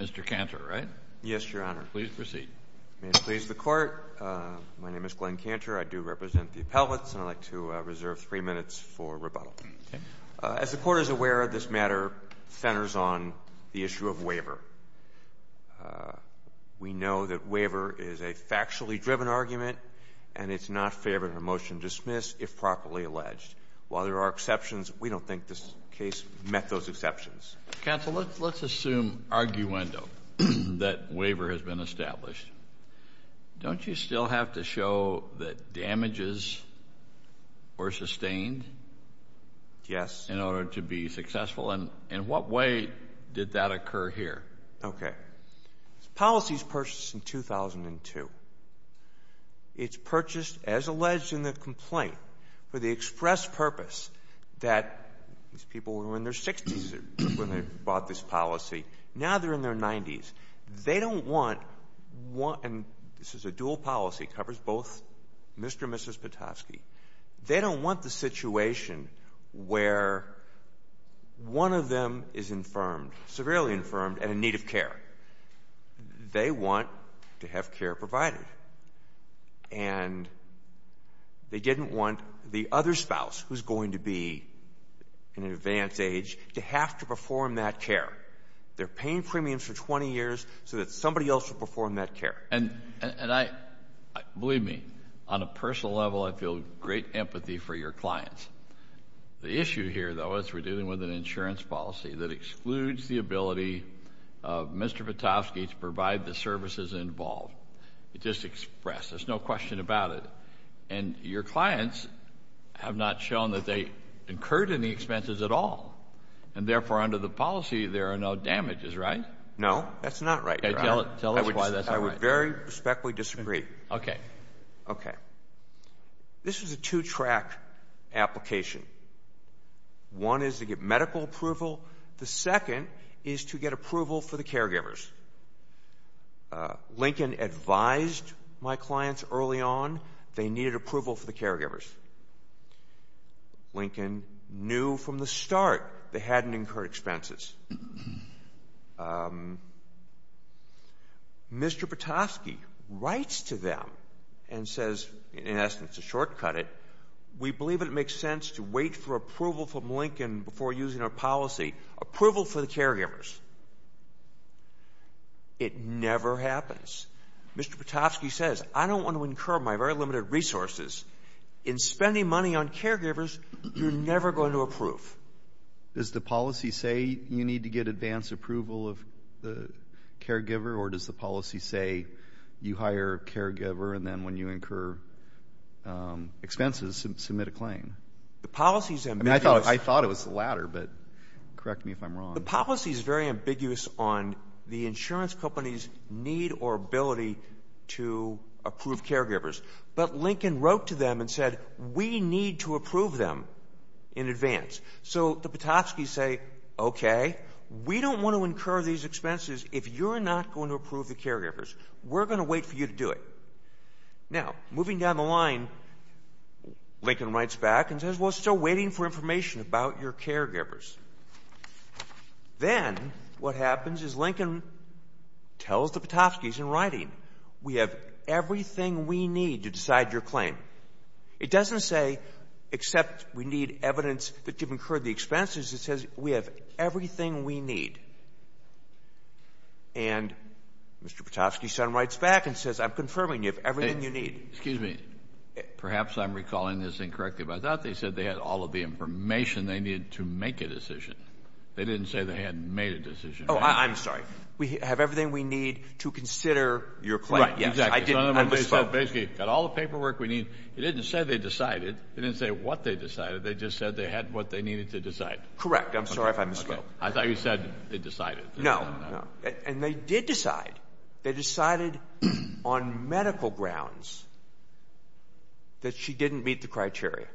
Mr. Cantor, right? Yes, Your Honor. Please proceed. May it please the Court, my name is Glenn Cantor. I do represent the Appellates, and I'd like to reserve three minutes for rebuttal. As the Court is aware, this matter centers on the issue of waiver. We know that waiver is a factually driven argument, and it's not fair to have a motion dismissed if properly alleged. While there are exceptions, we don't think this case met those exceptions. Counsel, let's assume arguendo that waiver has been established. Don't you still have to show that damages were sustained in order to be successful? And in what way did that occur here? Okay. This policy was purchased in 2002. It's purchased, as alleged in the complaint, for the express purpose that these people were in their 60s when they bought this policy. They want to have care provided. And they didn't want the other spouse, who's going to be in an advanced age, to have to perform that care. They're paying premiums for 20 years so that somebody else will perform that care. And I — believe me, on a personal level, I feel great empathy for your clients. The issue here, though, is we're dealing with an insurance policy that excludes the ability of Mr. Petofsky to provide the services involved. It's just express. There's no question about it. And your clients have not shown that they incurred any expenses at all. And therefore, under the policy, there are no damages, right? No, that's not right, Your Honor. Tell us why that's not right. I would very respectfully disagree. Okay. This is a two-track application. One is to get medical approval. The second is to get approval for the caregivers. Lincoln advised my clients early on they needed approval for the caregivers. Lincoln knew from the start they hadn't incurred expenses. Mr. Petofsky writes to them and says, in essence, to shortcut it, we believe it makes sense to wait for approval from Lincoln before using our policy, approval for the caregivers. It never happens. Mr. Petofsky says, I don't want to incur my very limited resources. In spending money on caregivers, you're never going to approve. Does the policy say you need to get advance approval of the caregiver, or does the policy say you hire a caregiver, and then when you incur expenses, submit a claim? The policy is ambiguous. I thought it was the latter, but correct me if I'm wrong. The policy is very ambiguous on the insurance company's need or ability to approve caregivers. But Lincoln wrote to them and said, we need to approve them in advance. So the Petofskys say, okay, we don't want to incur these expenses if you're not going to approve the caregivers. We're going to wait for you to do it. Now, moving down the line, Lincoln writes back and says, well, still waiting for information about your caregivers. Then what happens is Lincoln tells the Petofskys in writing, we have everything we need to decide your claim. It doesn't say except we need evidence that you've incurred the expenses. It says we have everything we need. And Mr. Petofsky then writes back and says, I'm confirming you have everything you need. Excuse me. Perhaps I'm recalling this incorrectly, but I thought they said they had all of the information they needed to make a decision. They didn't say they hadn't made a decision. Oh, I'm sorry. We have everything we need to consider your claim. Right, exactly. I didn't misspoke. Basically, got all the paperwork we need. It didn't say they decided. It didn't say what they decided. They just said they had what they needed to decide. Correct. I'm sorry if I misspoke. I thought you said they decided. And they did decide. They decided on medical grounds that she didn't meet the criteria.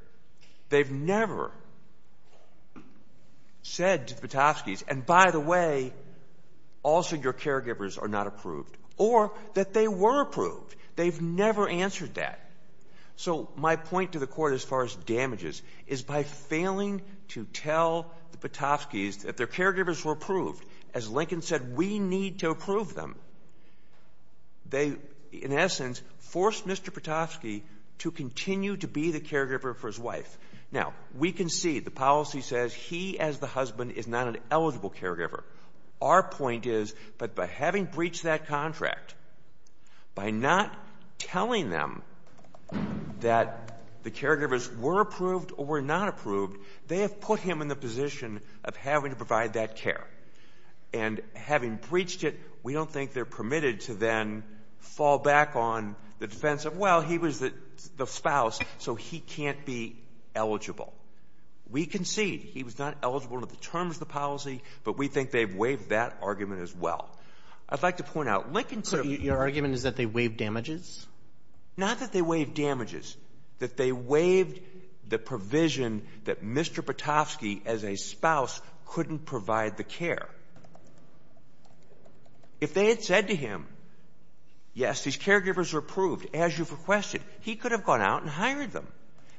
They've never said to the Petofskys, and by the way, also your caregivers are not approved, or that they were approved. They've never answered that. So my point to the Court as far as damages is by failing to tell the Petofskys that their caregivers were approved, as Lincoln said, we need to approve them, they, in essence, force Mr. Petofsky to continue to be the caregiver for his wife. Now, we can see the policy says he as the husband is not an eligible caregiver. Our point is that by having breached that contract, by not telling them that the caregivers were approved or were not approved, they have put him in the position of having to provide that care. And having breached it, we don't think they're permitted to then fall back on the defense of, well, he was the spouse, so he can't be eligible. We can see he was not eligible under the terms of the policy, but we think they've waived that argument as well. I'd like to point out, Lincoln could have— So your argument is that they waived damages? Not that they waived damages. That they waived the provision that Mr. Petofsky as a spouse couldn't provide the care. If they had said to him, yes, these caregivers are approved, as you've requested, he could have gone out and hired them.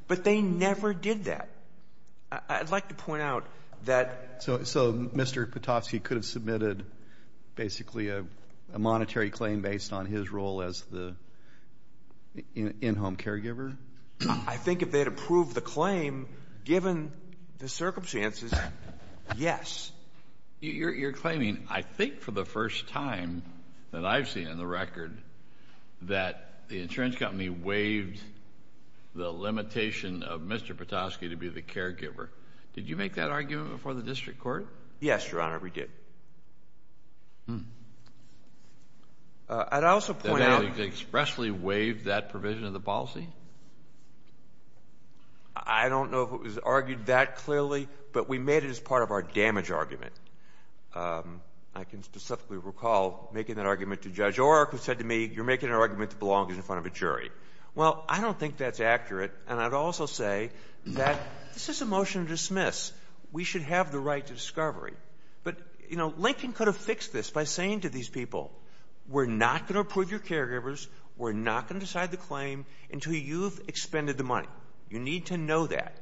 But they never did that. I'd like to point out that— So Mr. Petofsky could have submitted basically a monetary claim based on his role as the in-home caregiver? I think if they had approved the claim, given the circumstances, yes. You're claiming, I think for the first time that I've seen in the record, that the insurance company waived the limitation of Mr. Petofsky to be the caregiver. Did you make that argument before the district court? Yes, Your Honor, we did. I'd also point out— That they expressly waived that provision of the policy? I don't know if it was argued that clearly, but we made it as part of our damage argument. I can specifically recall making that argument to Judge O'Rourke, who said to me, you're making an argument that belongs in front of a jury. Well, I don't think that's accurate, and I'd also say that this is a motion to dismiss. We should have the right to discovery. But, you know, Lincoln could have fixed this by saying to these people, we're not going to approve your caregivers, we're not going to decide the claim until you've expended the money. You need to know that.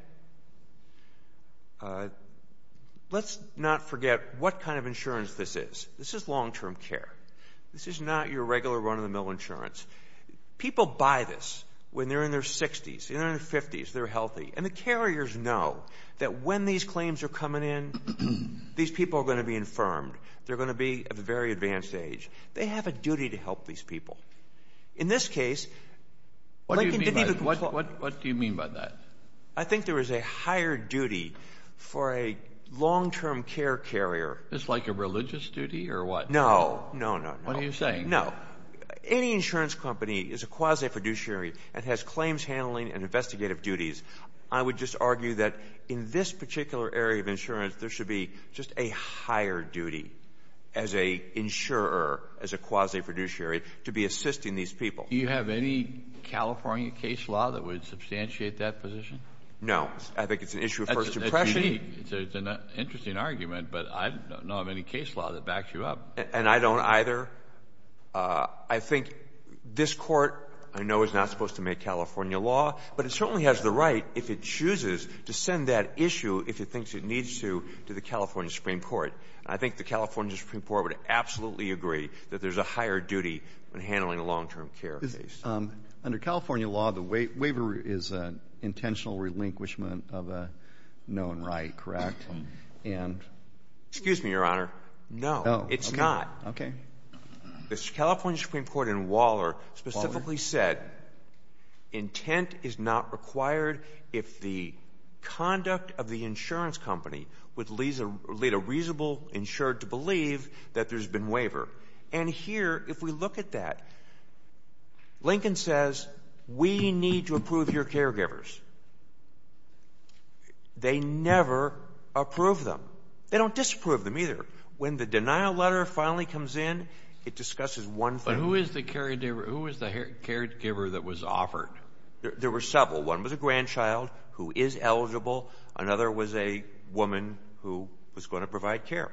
Let's not forget what kind of insurance this is. This is long-term care. This is not your regular run-of-the-mill insurance. People buy this when they're in their 60s. They're in their 50s. They're healthy. And the carriers know that when these claims are coming in, these people are going to be infirmed. They're going to be at a very advanced age. They have a duty to help these people. In this case, Lincoln didn't even— What do you mean by that? I think there is a higher duty for a long-term care carrier— Is this like a religious duty or what? No, no, no, no. What are you saying? No. Any insurance company is a quasi-fiduciary and has claims handling and investigative duties. I would just argue that in this particular area of insurance, there should be just a higher duty as an insurer, as a quasi-fiduciary, to be assisting these people. Do you have any California case law that would substantiate that position? No. I think it's an issue of First Impression. That's unique. It's an interesting argument, but I don't know of any case law that backs you up. And I don't either. I think this Court, I know, is not supposed to make California law, but it certainly has the right, if it chooses, to send that issue, if it thinks it needs to, to the California Supreme Court. I think the California Supreme Court would absolutely agree that there's a higher duty in handling a long-term care case. Under California law, the waiver is an intentional relinquishment of a known right, correct? And— Excuse me, Your Honor. No, it's not. The California Supreme Court in Waller specifically said intent is not required if the conduct of the insurance company would lead a reasonable insured to believe that there's been waiver. And here, if we look at that, Lincoln says we need to approve your caregivers. They never approve them. They don't disapprove them either. When the denial letter finally comes in, it discusses one thing. But who is the caregiver that was offered? There were several. One was a grandchild who is eligible. Another was a woman who was going to provide care.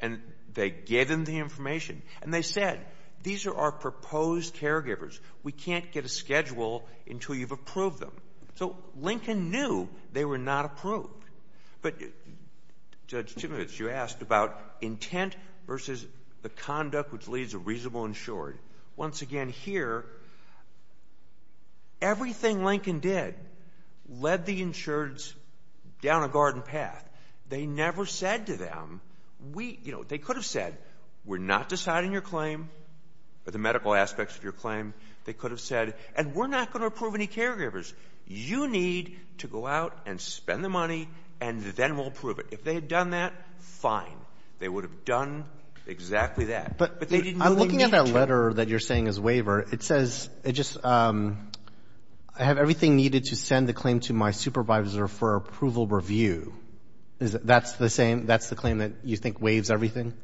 And they gave them the information. And they said, these are our proposed caregivers. We can't get a schedule until you've approved them. So Lincoln knew they were not approved. But, Judge Timovitz, you asked about intent versus the conduct which leads a reasonable insured. Once again, here, everything Lincoln did led the insureds down a garden path. They never said to them, we—you know, they could have said, we're not deciding your claim or the medical aspects of your claim. They could have said, and we're not going to approve any caregivers. You need to go out and spend the money, and then we'll approve it. If they had done that, fine. They would have done exactly that. But they didn't know they needed to. I'm looking at that letter that you're saying is waiver. It says it just, I have everything needed to send the claim to my supervisor for approval review. That's the same—that's the claim that you think waives everything?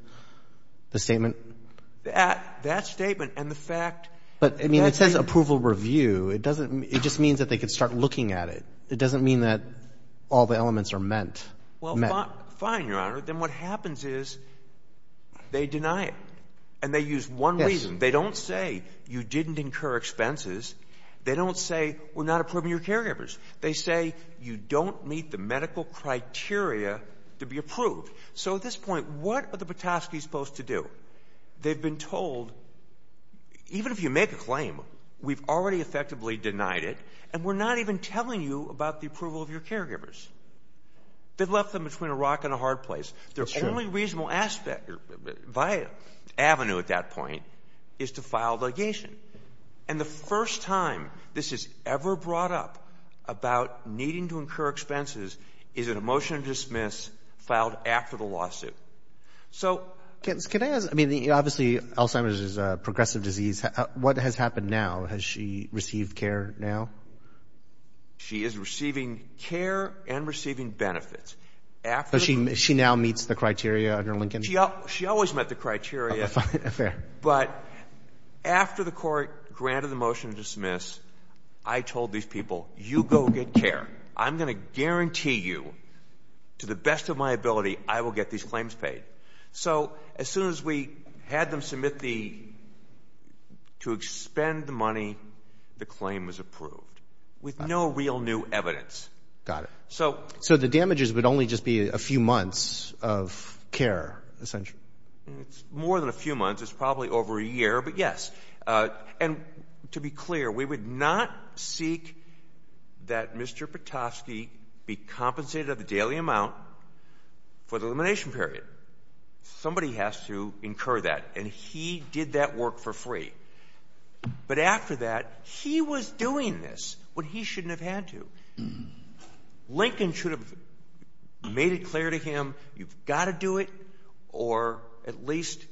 The statement? That statement and the fact— But, I mean, it says approval review. It doesn't—it just means that they could start looking at it. It doesn't mean that all the elements are meant. Well, fine, Your Honor. Then what happens is they deny it, and they use one reason. They don't say, you didn't incur expenses. They don't say, we're not approving your caregivers. They say, you don't meet the medical criteria to be approved. So at this point, what are the Patofskys supposed to do? They've been told, even if you make a claim, we've already effectively denied it, and we're not even telling you about the approval of your caregivers. They've left them between a rock and a hard place. Their only reasonable avenue at that point is to file a litigation. And the first time this is ever brought up about needing to incur expenses is in a motion to dismiss filed after the lawsuit. So— Can I ask—I mean, obviously, Alzheimer's is a progressive disease. What has happened now? Has she received care now? She is receiving care and receiving benefits. So she now meets the criteria under Lincoln? She always met the criteria. Okay, fair. But after the court granted the motion to dismiss, I told these people, you go get care. I'm going to guarantee you, to the best of my ability, I will get these claims paid. So as soon as we had them submit the—to expend the money, the claim was approved, with no real new evidence. Got it. So— So the damages would only just be a few months of care, essentially. It's more than a few months. It's probably over a year, but yes. And to be clear, we would not seek that Mr. Patofsky be compensated of the daily amount for the elimination period. Somebody has to incur that, and he did that work for free. But after that, he was doing this when he shouldn't have had to. Lincoln should have made it clear to him, you've got to do it, or at least—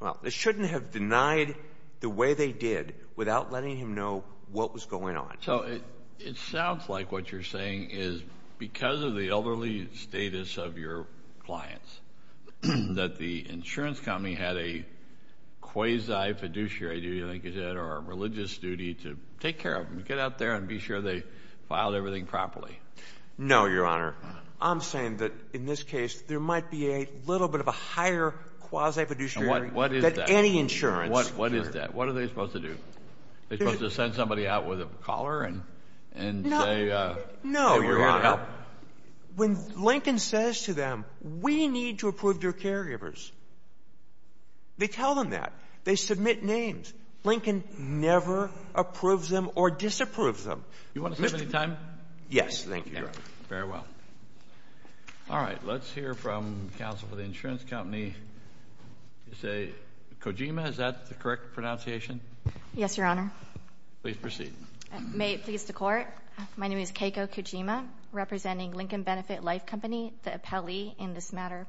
well, they shouldn't have denied the way they did without letting him know what was going on. So it sounds like what you're saying is because of the elderly status of your clients, that the insurance company had a quasi-fiduciary duty, I think you said, or a religious duty to take care of them, get out there and be sure they filed everything properly. No, Your Honor. I'm saying that in this case, there might be a little bit of a higher quasi-fiduciary— And what is that? —than any insurance. What is that? What are they supposed to do? Are they supposed to send somebody out with a collar and say— —that we're here to help? No, Your Honor. When Lincoln says to them, we need to approve your caregivers, they tell them that. They submit names. Lincoln never approves them or disapproves them. You want to save any time? Yes, thank you, Your Honor. Very well. All right, let's hear from counsel for the insurance company. Kojima, is that the correct pronunciation? Yes, Your Honor. Please proceed. May it please the Court, my name is Keiko Kojima, representing Lincoln Benefit Life Company, the appellee in this matter.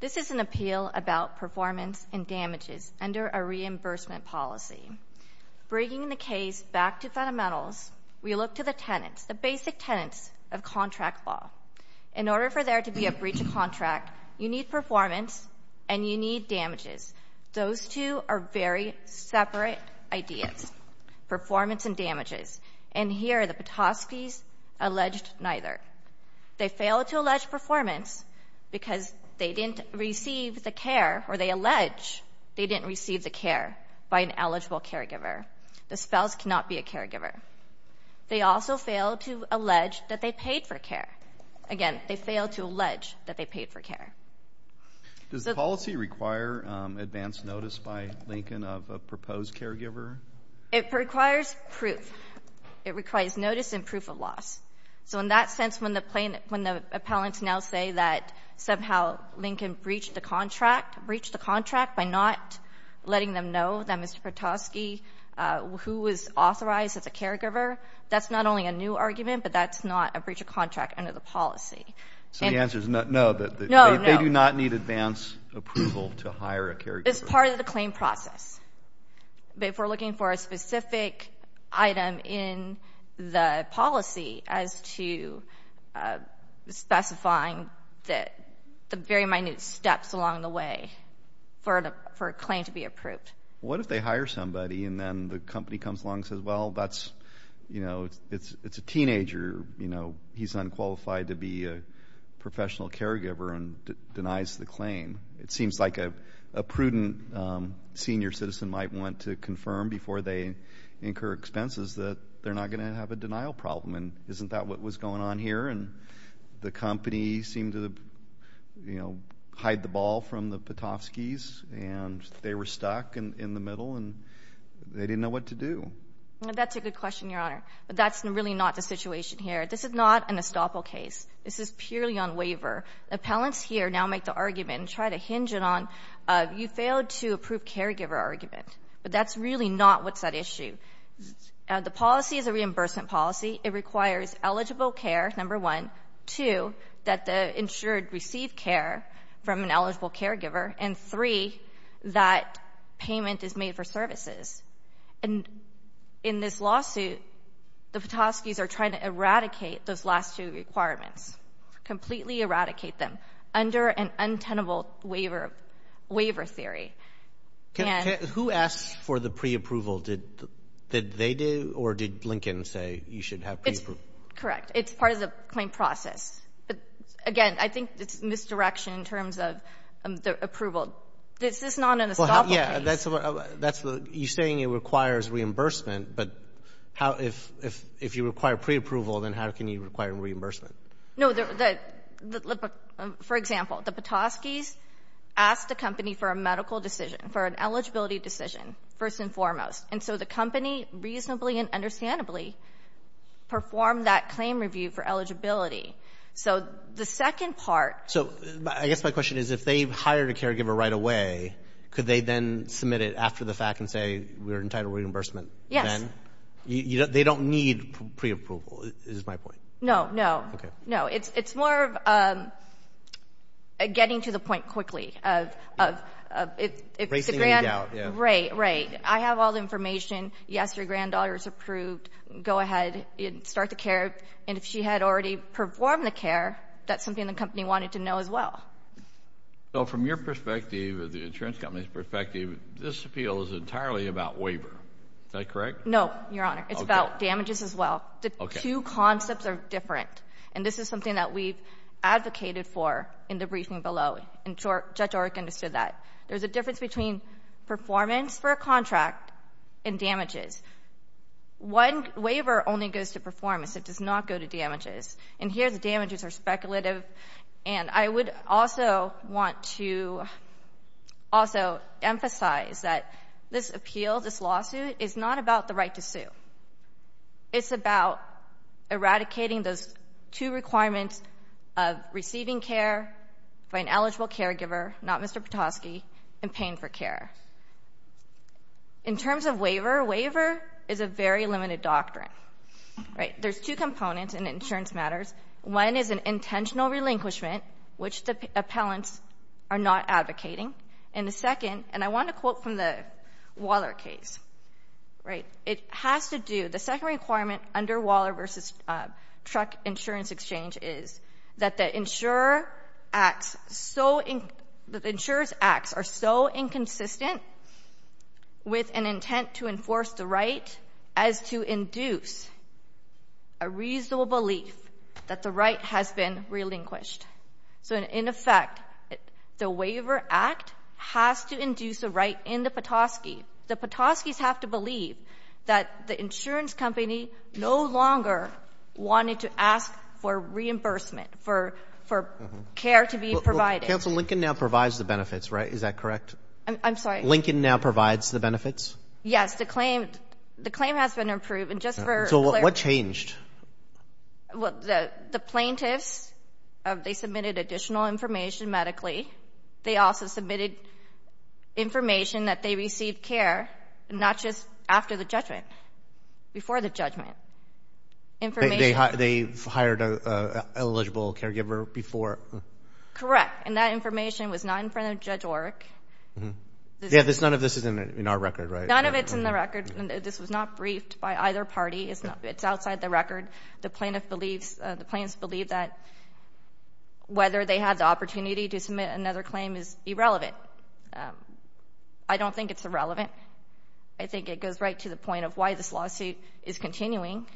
This is an appeal about performance and damages under a reimbursement policy. Bringing the case back to fundamentals, we look to the tenets, the basic tenets of contract law. In order for there to be a breach of contract, you need performance and you need damages. Those two are very separate ideas, performance and damages. And here, the Petoskeys alleged neither. They failed to allege performance because they didn't receive the care, or they allege they didn't receive the care by an eligible caregiver. The spouse cannot be a caregiver. They also failed to allege that they paid for care. Again, they failed to allege that they paid for care. Does the policy require advance notice by Lincoln of a proposed caregiver? It requires proof. It requires notice and proof of loss. So in that sense, when the appellants now say that somehow Lincoln breached the contract, breached the contract by not letting them know that Mr. Petoskey, who was authorized as a caregiver, that's not only a new argument, but that's not a breach of contract under the policy. So the answer is no. No, no. They do not need advance approval to hire a caregiver. It's part of the claim process. But if we're looking for a specific item in the policy as to specifying the very minute steps along the way for a claim to be approved. What if they hire somebody and then the company comes along and says, well, that's, you know, it's a teenager. You know, he's unqualified to be a professional caregiver and denies the claim. It seems like a prudent senior citizen might want to confirm before they incur expenses that they're not going to have a denial problem. And isn't that what was going on here? And the company seemed to, you know, hide the ball from the Petoskeys, and they were stuck in the middle, and they didn't know what to do. That's a good question, Your Honor. But that's really not the situation here. This is not an estoppel case. This is purely on waiver. Appellants here now make the argument and try to hinge it on you failed to approve caregiver argument. But that's really not what's at issue. The policy is a reimbursement policy. It requires eligible care, number one. Two, that the insured receive care from an eligible caregiver. And three, that payment is made for services. And in this lawsuit, the Petoskeys are trying to eradicate those last two requirements, completely eradicate them under an untenable waiver theory. Who asked for the preapproval? Did they do, or did Blinken say you should have preapproval? Correct. It's part of the claim process. But, again, I think it's misdirection in terms of the approval. This is not an estoppel case. Yeah. You're saying it requires reimbursement. But if you require preapproval, then how can you require reimbursement? No. For example, the Petoskeys asked the company for a medical decision, for an eligibility decision, first and foremost. And so the company reasonably and understandably performed that claim review for eligibility. So the second part. So I guess my question is if they've hired a caregiver right away, could they then submit it after the fact and say we're entitled reimbursement then? They don't need preapproval, is my point. No, no. Okay. No, it's more of getting to the point quickly. Bracing any doubt. Right, right. I have all the information. Yes, your granddaughter is approved. Go ahead and start the care. And if she had already performed the care, that's something the company wanted to know as well. So from your perspective, the insurance company's perspective, this appeal is entirely about waiver. Is that correct? No, your Honor. It's about damages as well. The two concepts are different. And this is something that we've advocated for in the briefing below. And Judge Orrick understood that. There's a difference between performance for a contract and damages. Waiver only goes to performance. It does not go to damages. And here the damages are speculative. And I would also want to also emphasize that this appeal, this lawsuit, is not about the right to sue. It's about eradicating those two requirements of receiving care by an eligible caregiver, not Mr. Piotrowski, and paying for care. In terms of waiver, waiver is a very limited doctrine. Right? There's two components in insurance matters. One is an intentional relinquishment, which the appellants are not advocating. And the second, and I want to quote from the Waller case. Right? The second requirement under Waller v. Truck Insurance Exchange is that the insurer's acts are so inconsistent with an intent to enforce the right as to induce a reasonable belief that the right has been relinquished. So, in effect, the waiver act has to induce a right in the Petoskey. The Petoskey's have to believe that the insurance company no longer wanted to ask for reimbursement, for care to be provided. Counsel, Lincoln now provides the benefits, right? Is that correct? I'm sorry? Lincoln now provides the benefits? Yes. The claim has been approved. And just for clarity. So, what changed? Well, the plaintiffs, they submitted additional information medically. They also submitted information that they received care, not just after the judgment. Before the judgment. They hired an eligible caregiver before? Correct. And that information was not in front of Judge Orrick. Yeah, none of this is in our record, right? None of it's in the record. This was not briefed by either party. It's outside the record. The plaintiffs believe that whether they had the opportunity to submit another claim is irrelevant. I don't think it's irrelevant. I think it goes right to the point of why this lawsuit is continuing.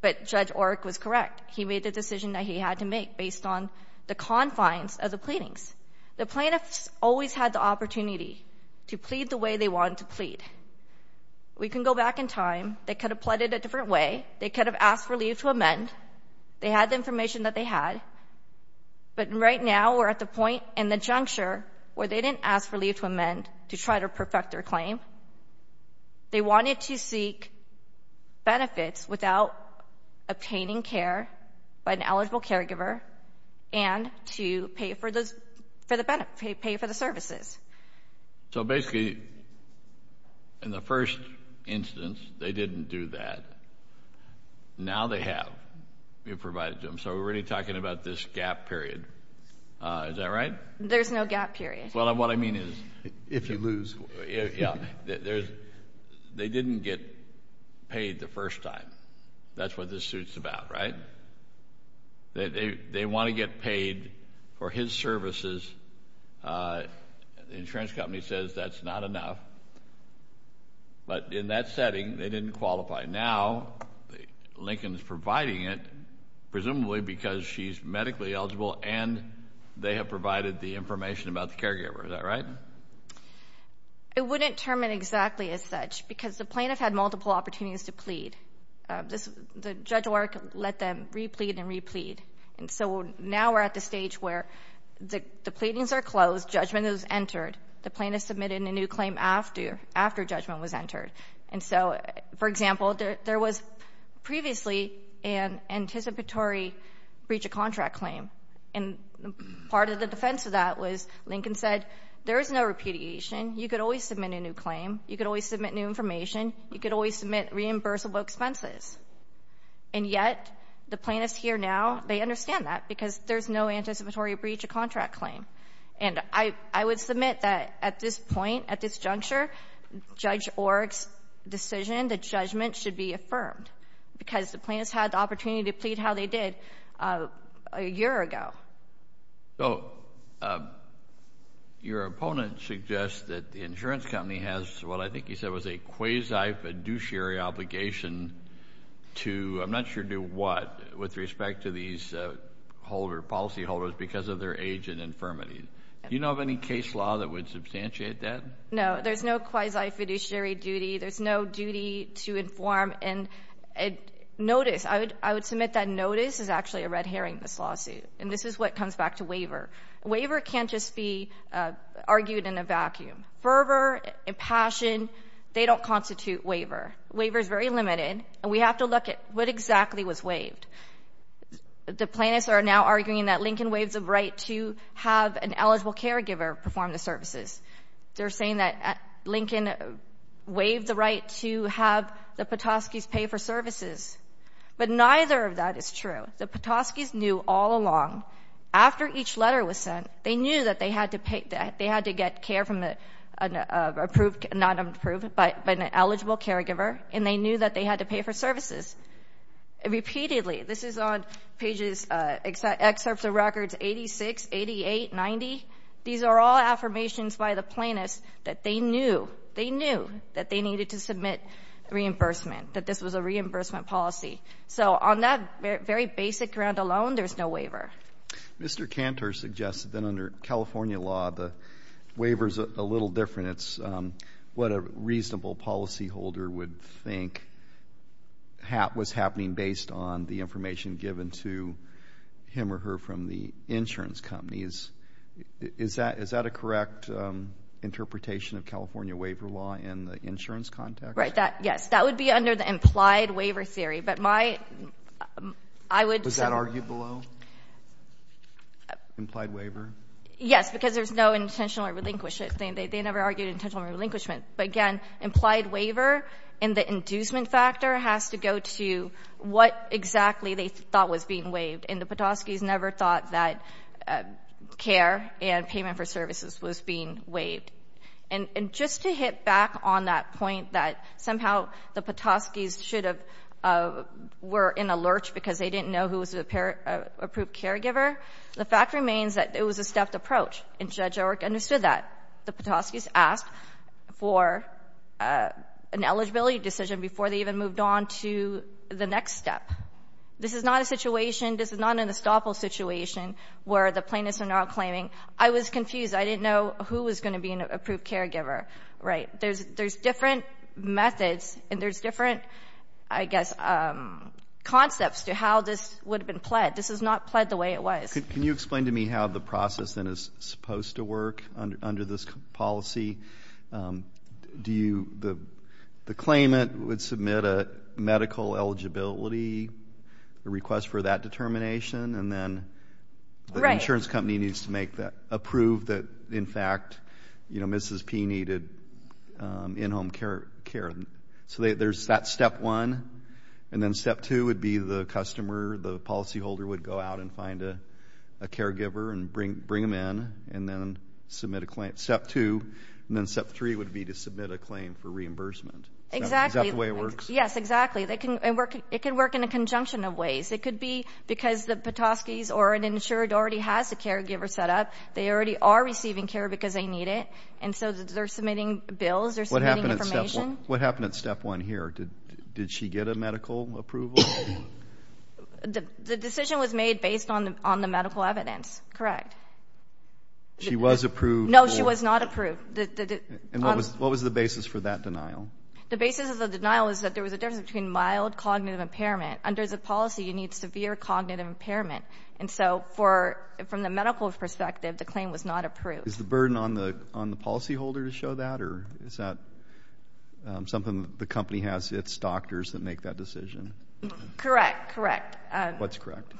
But Judge Orrick was correct. He made the decision that he had to make based on the confines of the pleadings. The plaintiffs always had the opportunity to plead the way they wanted to plead. We can go back in time. They could have pleaded a different way. They could have asked for leave to amend. They had the information that they had. But right now we're at the point in the juncture where they didn't ask for leave to amend to try to perfect their claim. They wanted to seek benefits without obtaining care by an eligible caregiver and to pay for the services. So basically, in the first instance, they didn't do that. Now they have. We've provided to them. So we're really talking about this gap period. Is that right? There's no gap period. Well, what I mean is. If you lose. Yeah. They didn't get paid the first time. That's what this suit's about, right? They want to get paid for his services. The insurance company says that's not enough. But in that setting, they didn't qualify. Now Lincoln's providing it, presumably because she's medically eligible and they have provided the information about the caregiver. Is that right? I wouldn't term it exactly as such because the plaintiff had multiple opportunities to plead. The judge let them re-plead and re-plead. And so now we're at the stage where the pleadings are closed, judgment is entered. The plaintiff submitted a new claim after judgment was entered. And so, for example, there was previously an anticipatory breach of contract claim. And part of the defense of that was Lincoln said there is no repudiation. You could always submit a new claim. You could always submit new information. You could always submit reimbursable expenses. And yet, the plaintiffs here now, they understand that because there's no anticipatory breach of contract claim. And I would submit that at this point, at this juncture, Judge Orrick's decision, the judgment should be affirmed because the plaintiffs had the opportunity to plead how they did a year ago. So, your opponent suggests that the insurance company has what I think he said was a quasi-fiduciary obligation to, I'm not sure to what, with respect to these policyholders because of their age and infirmity. Do you know of any case law that would substantiate that? No, there's no quasi-fiduciary duty. There's no duty to inform. And notice, I would submit that notice is actually a red herring, this lawsuit. And this is what comes back to waiver. Waiver can't just be argued in a vacuum. Fervor, impassion, they don't constitute waiver. Waiver is very limited. And we have to look at what exactly was waived. The plaintiffs are now arguing that Lincoln waived the right to have an eligible caregiver perform the services. They're saying that Lincoln waived the right to have the Petoskey's pay for services. But neither of that is true. The Petoskey's knew all along, after each letter was sent, they knew that they had to get care from an eligible caregiver, and they knew that they had to pay for services repeatedly. This is on pages, excerpts of records 86, 88, 90. These are all affirmations by the plaintiffs that they knew, they knew that they needed to submit reimbursement, that this was a reimbursement policy. So on that very basic ground alone, there's no waiver. Mr. Cantor suggested that under California law, the waiver's a little different. It's what a reasonable policyholder would think was happening based on the information given to him or her from the insurance companies. Is that a correct interpretation of California waiver law in the insurance context? Yes. That would be under the implied waiver theory. But my ‑‑I would ‑‑ Was that argued below? Implied waiver? Yes, because there's no intentional relinquishment. They never argued intentional relinquishment. But, again, implied waiver and the inducement factor has to go to what exactly they thought was being waived. And the Petoskey's never thought that care and payment for services was being waived. And just to hit back on that point that somehow the Petoskey's should have ‑‑ were in a lurch because they didn't know who was the approved caregiver, the fact remains that it was a stepped approach. And Judge O'Rourke understood that. The Petoskey's asked for an eligibility decision before they even moved on to the next step. This is not a situation, this is not an estoppel situation where the plaintiffs are now claiming, I was confused, I didn't know who was going to be an approved caregiver. Right. There's different methods and there's different, I guess, concepts to how this would have been pled. This is not pled the way it was. Can you explain to me how the process then is supposed to work under this policy? Do you ‑‑ the claimant would submit a medical eligibility, a request for that determination, and then the insurance company needs to approve that, in fact, Mrs. P needed in‑home care. So there's that step one. And then step two would be the customer, the policyholder would go out and find a caregiver and bring them in and then submit a claim. Step two. And then step three would be to submit a claim for reimbursement. Exactly. Is that the way it works? Yes, exactly. It can work in a conjunction of ways. It could be because the Petoskey's or an insured already has a caregiver set up. They already are receiving care because they need it. And so they're submitting bills, they're submitting information. What happened at step one here? Did she get a medical approval? The decision was made based on the medical evidence. Correct. She was approved? No, she was not approved. And what was the basis for that denial? The basis of the denial is that there was a difference between mild cognitive impairment. Under the policy, you need severe cognitive impairment. And so from the medical perspective, the claim was not approved. Is the burden on the policyholder to show that? Or is that something the company has its doctors that make that decision? Correct, correct. What's correct?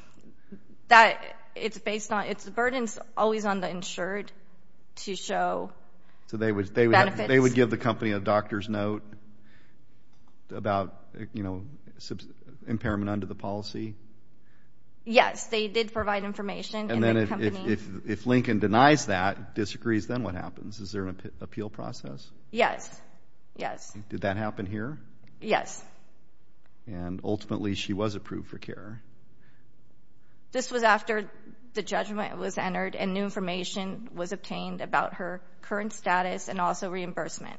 That it's based on its burdens always on the insured to show benefits. So they would give the company a doctor's note about, you know, impairment under the policy? Yes, they did provide information. And then if Lincoln denies that, disagrees, then what happens? Is there an appeal process? Yes, yes. Did that happen here? Yes. And ultimately she was approved for care. This was after the judgment was entered and new information was obtained about her current status and also reimbursement.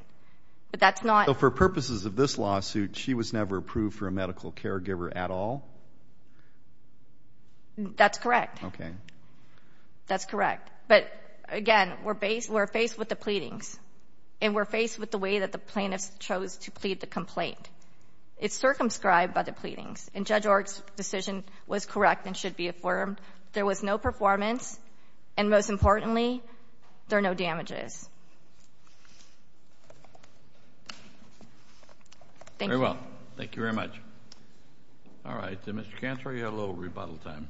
But that's not. So for purposes of this lawsuit, she was never approved for a medical caregiver at all? That's correct. Okay. That's correct. But, again, we're faced with the pleadings. And we're faced with the way that the plaintiffs chose to plead the complaint. It's circumscribed by the pleadings. And Judge Org's decision was correct and should be affirmed. There was no performance. And most importantly, there are no damages. Thank you. Very well. Thank you very much. All right. Mr. Cantor, you had a little rebuttal time.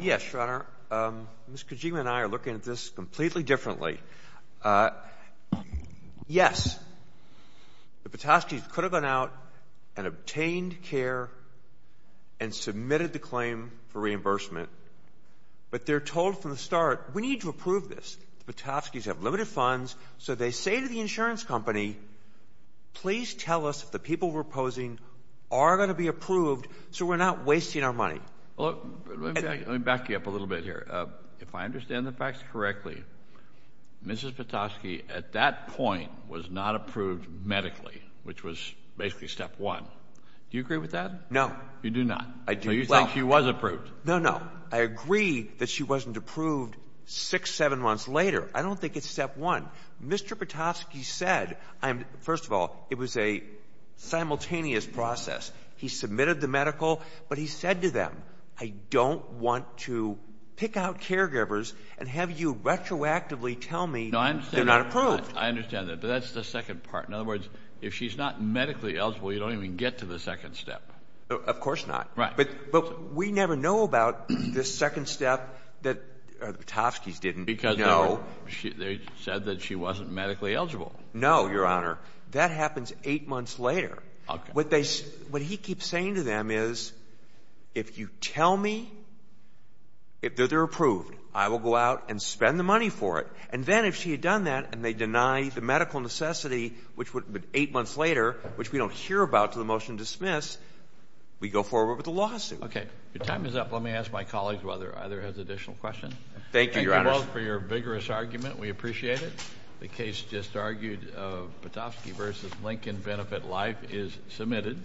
Yes, Your Honor. Ms. Kojima and I are looking at this completely differently. Yes, the Patoskys could have gone out and obtained care and submitted the claim for reimbursement. But they're told from the start, we need to approve this. The Patoskys have limited funds. So they say to the insurance company, please tell us if the people we're opposing are going to be approved so we're not wasting our money. Let me back you up a little bit here. If I understand the facts correctly, Mrs. Patosky at that point was not approved medically, which was basically step one. Do you agree with that? You do not? I do. So you think she was approved? No, no. I agree that she wasn't approved six, seven months later. I don't think it's step one. Mr. Patosky said, first of all, it was a simultaneous process. He submitted the medical, but he said to them, I don't want to pick out caregivers and have you retroactively tell me they're not approved. I understand that. But that's the second part. In other words, if she's not medically eligible, you don't even get to the second step. Of course not. Right. But we never know about the second step that the Patoskys didn't know. Because they said that she wasn't medically eligible. No, Your Honor. That happens eight months later. Okay. What he keeps saying to them is, if you tell me that they're approved, I will go out and spend the money for it. And then if she had done that and they deny the medical necessity, which would be eight months later, which we don't hear about until the motion is dismissed, we go forward with the lawsuit. Okay. Your time is up. Let me ask my colleagues whether either has additional questions. Thank you, Your Honor. Thank you both for your vigorous argument. We appreciate it. The case just argued of Patosky v. Lincoln Benefit Life is submitted.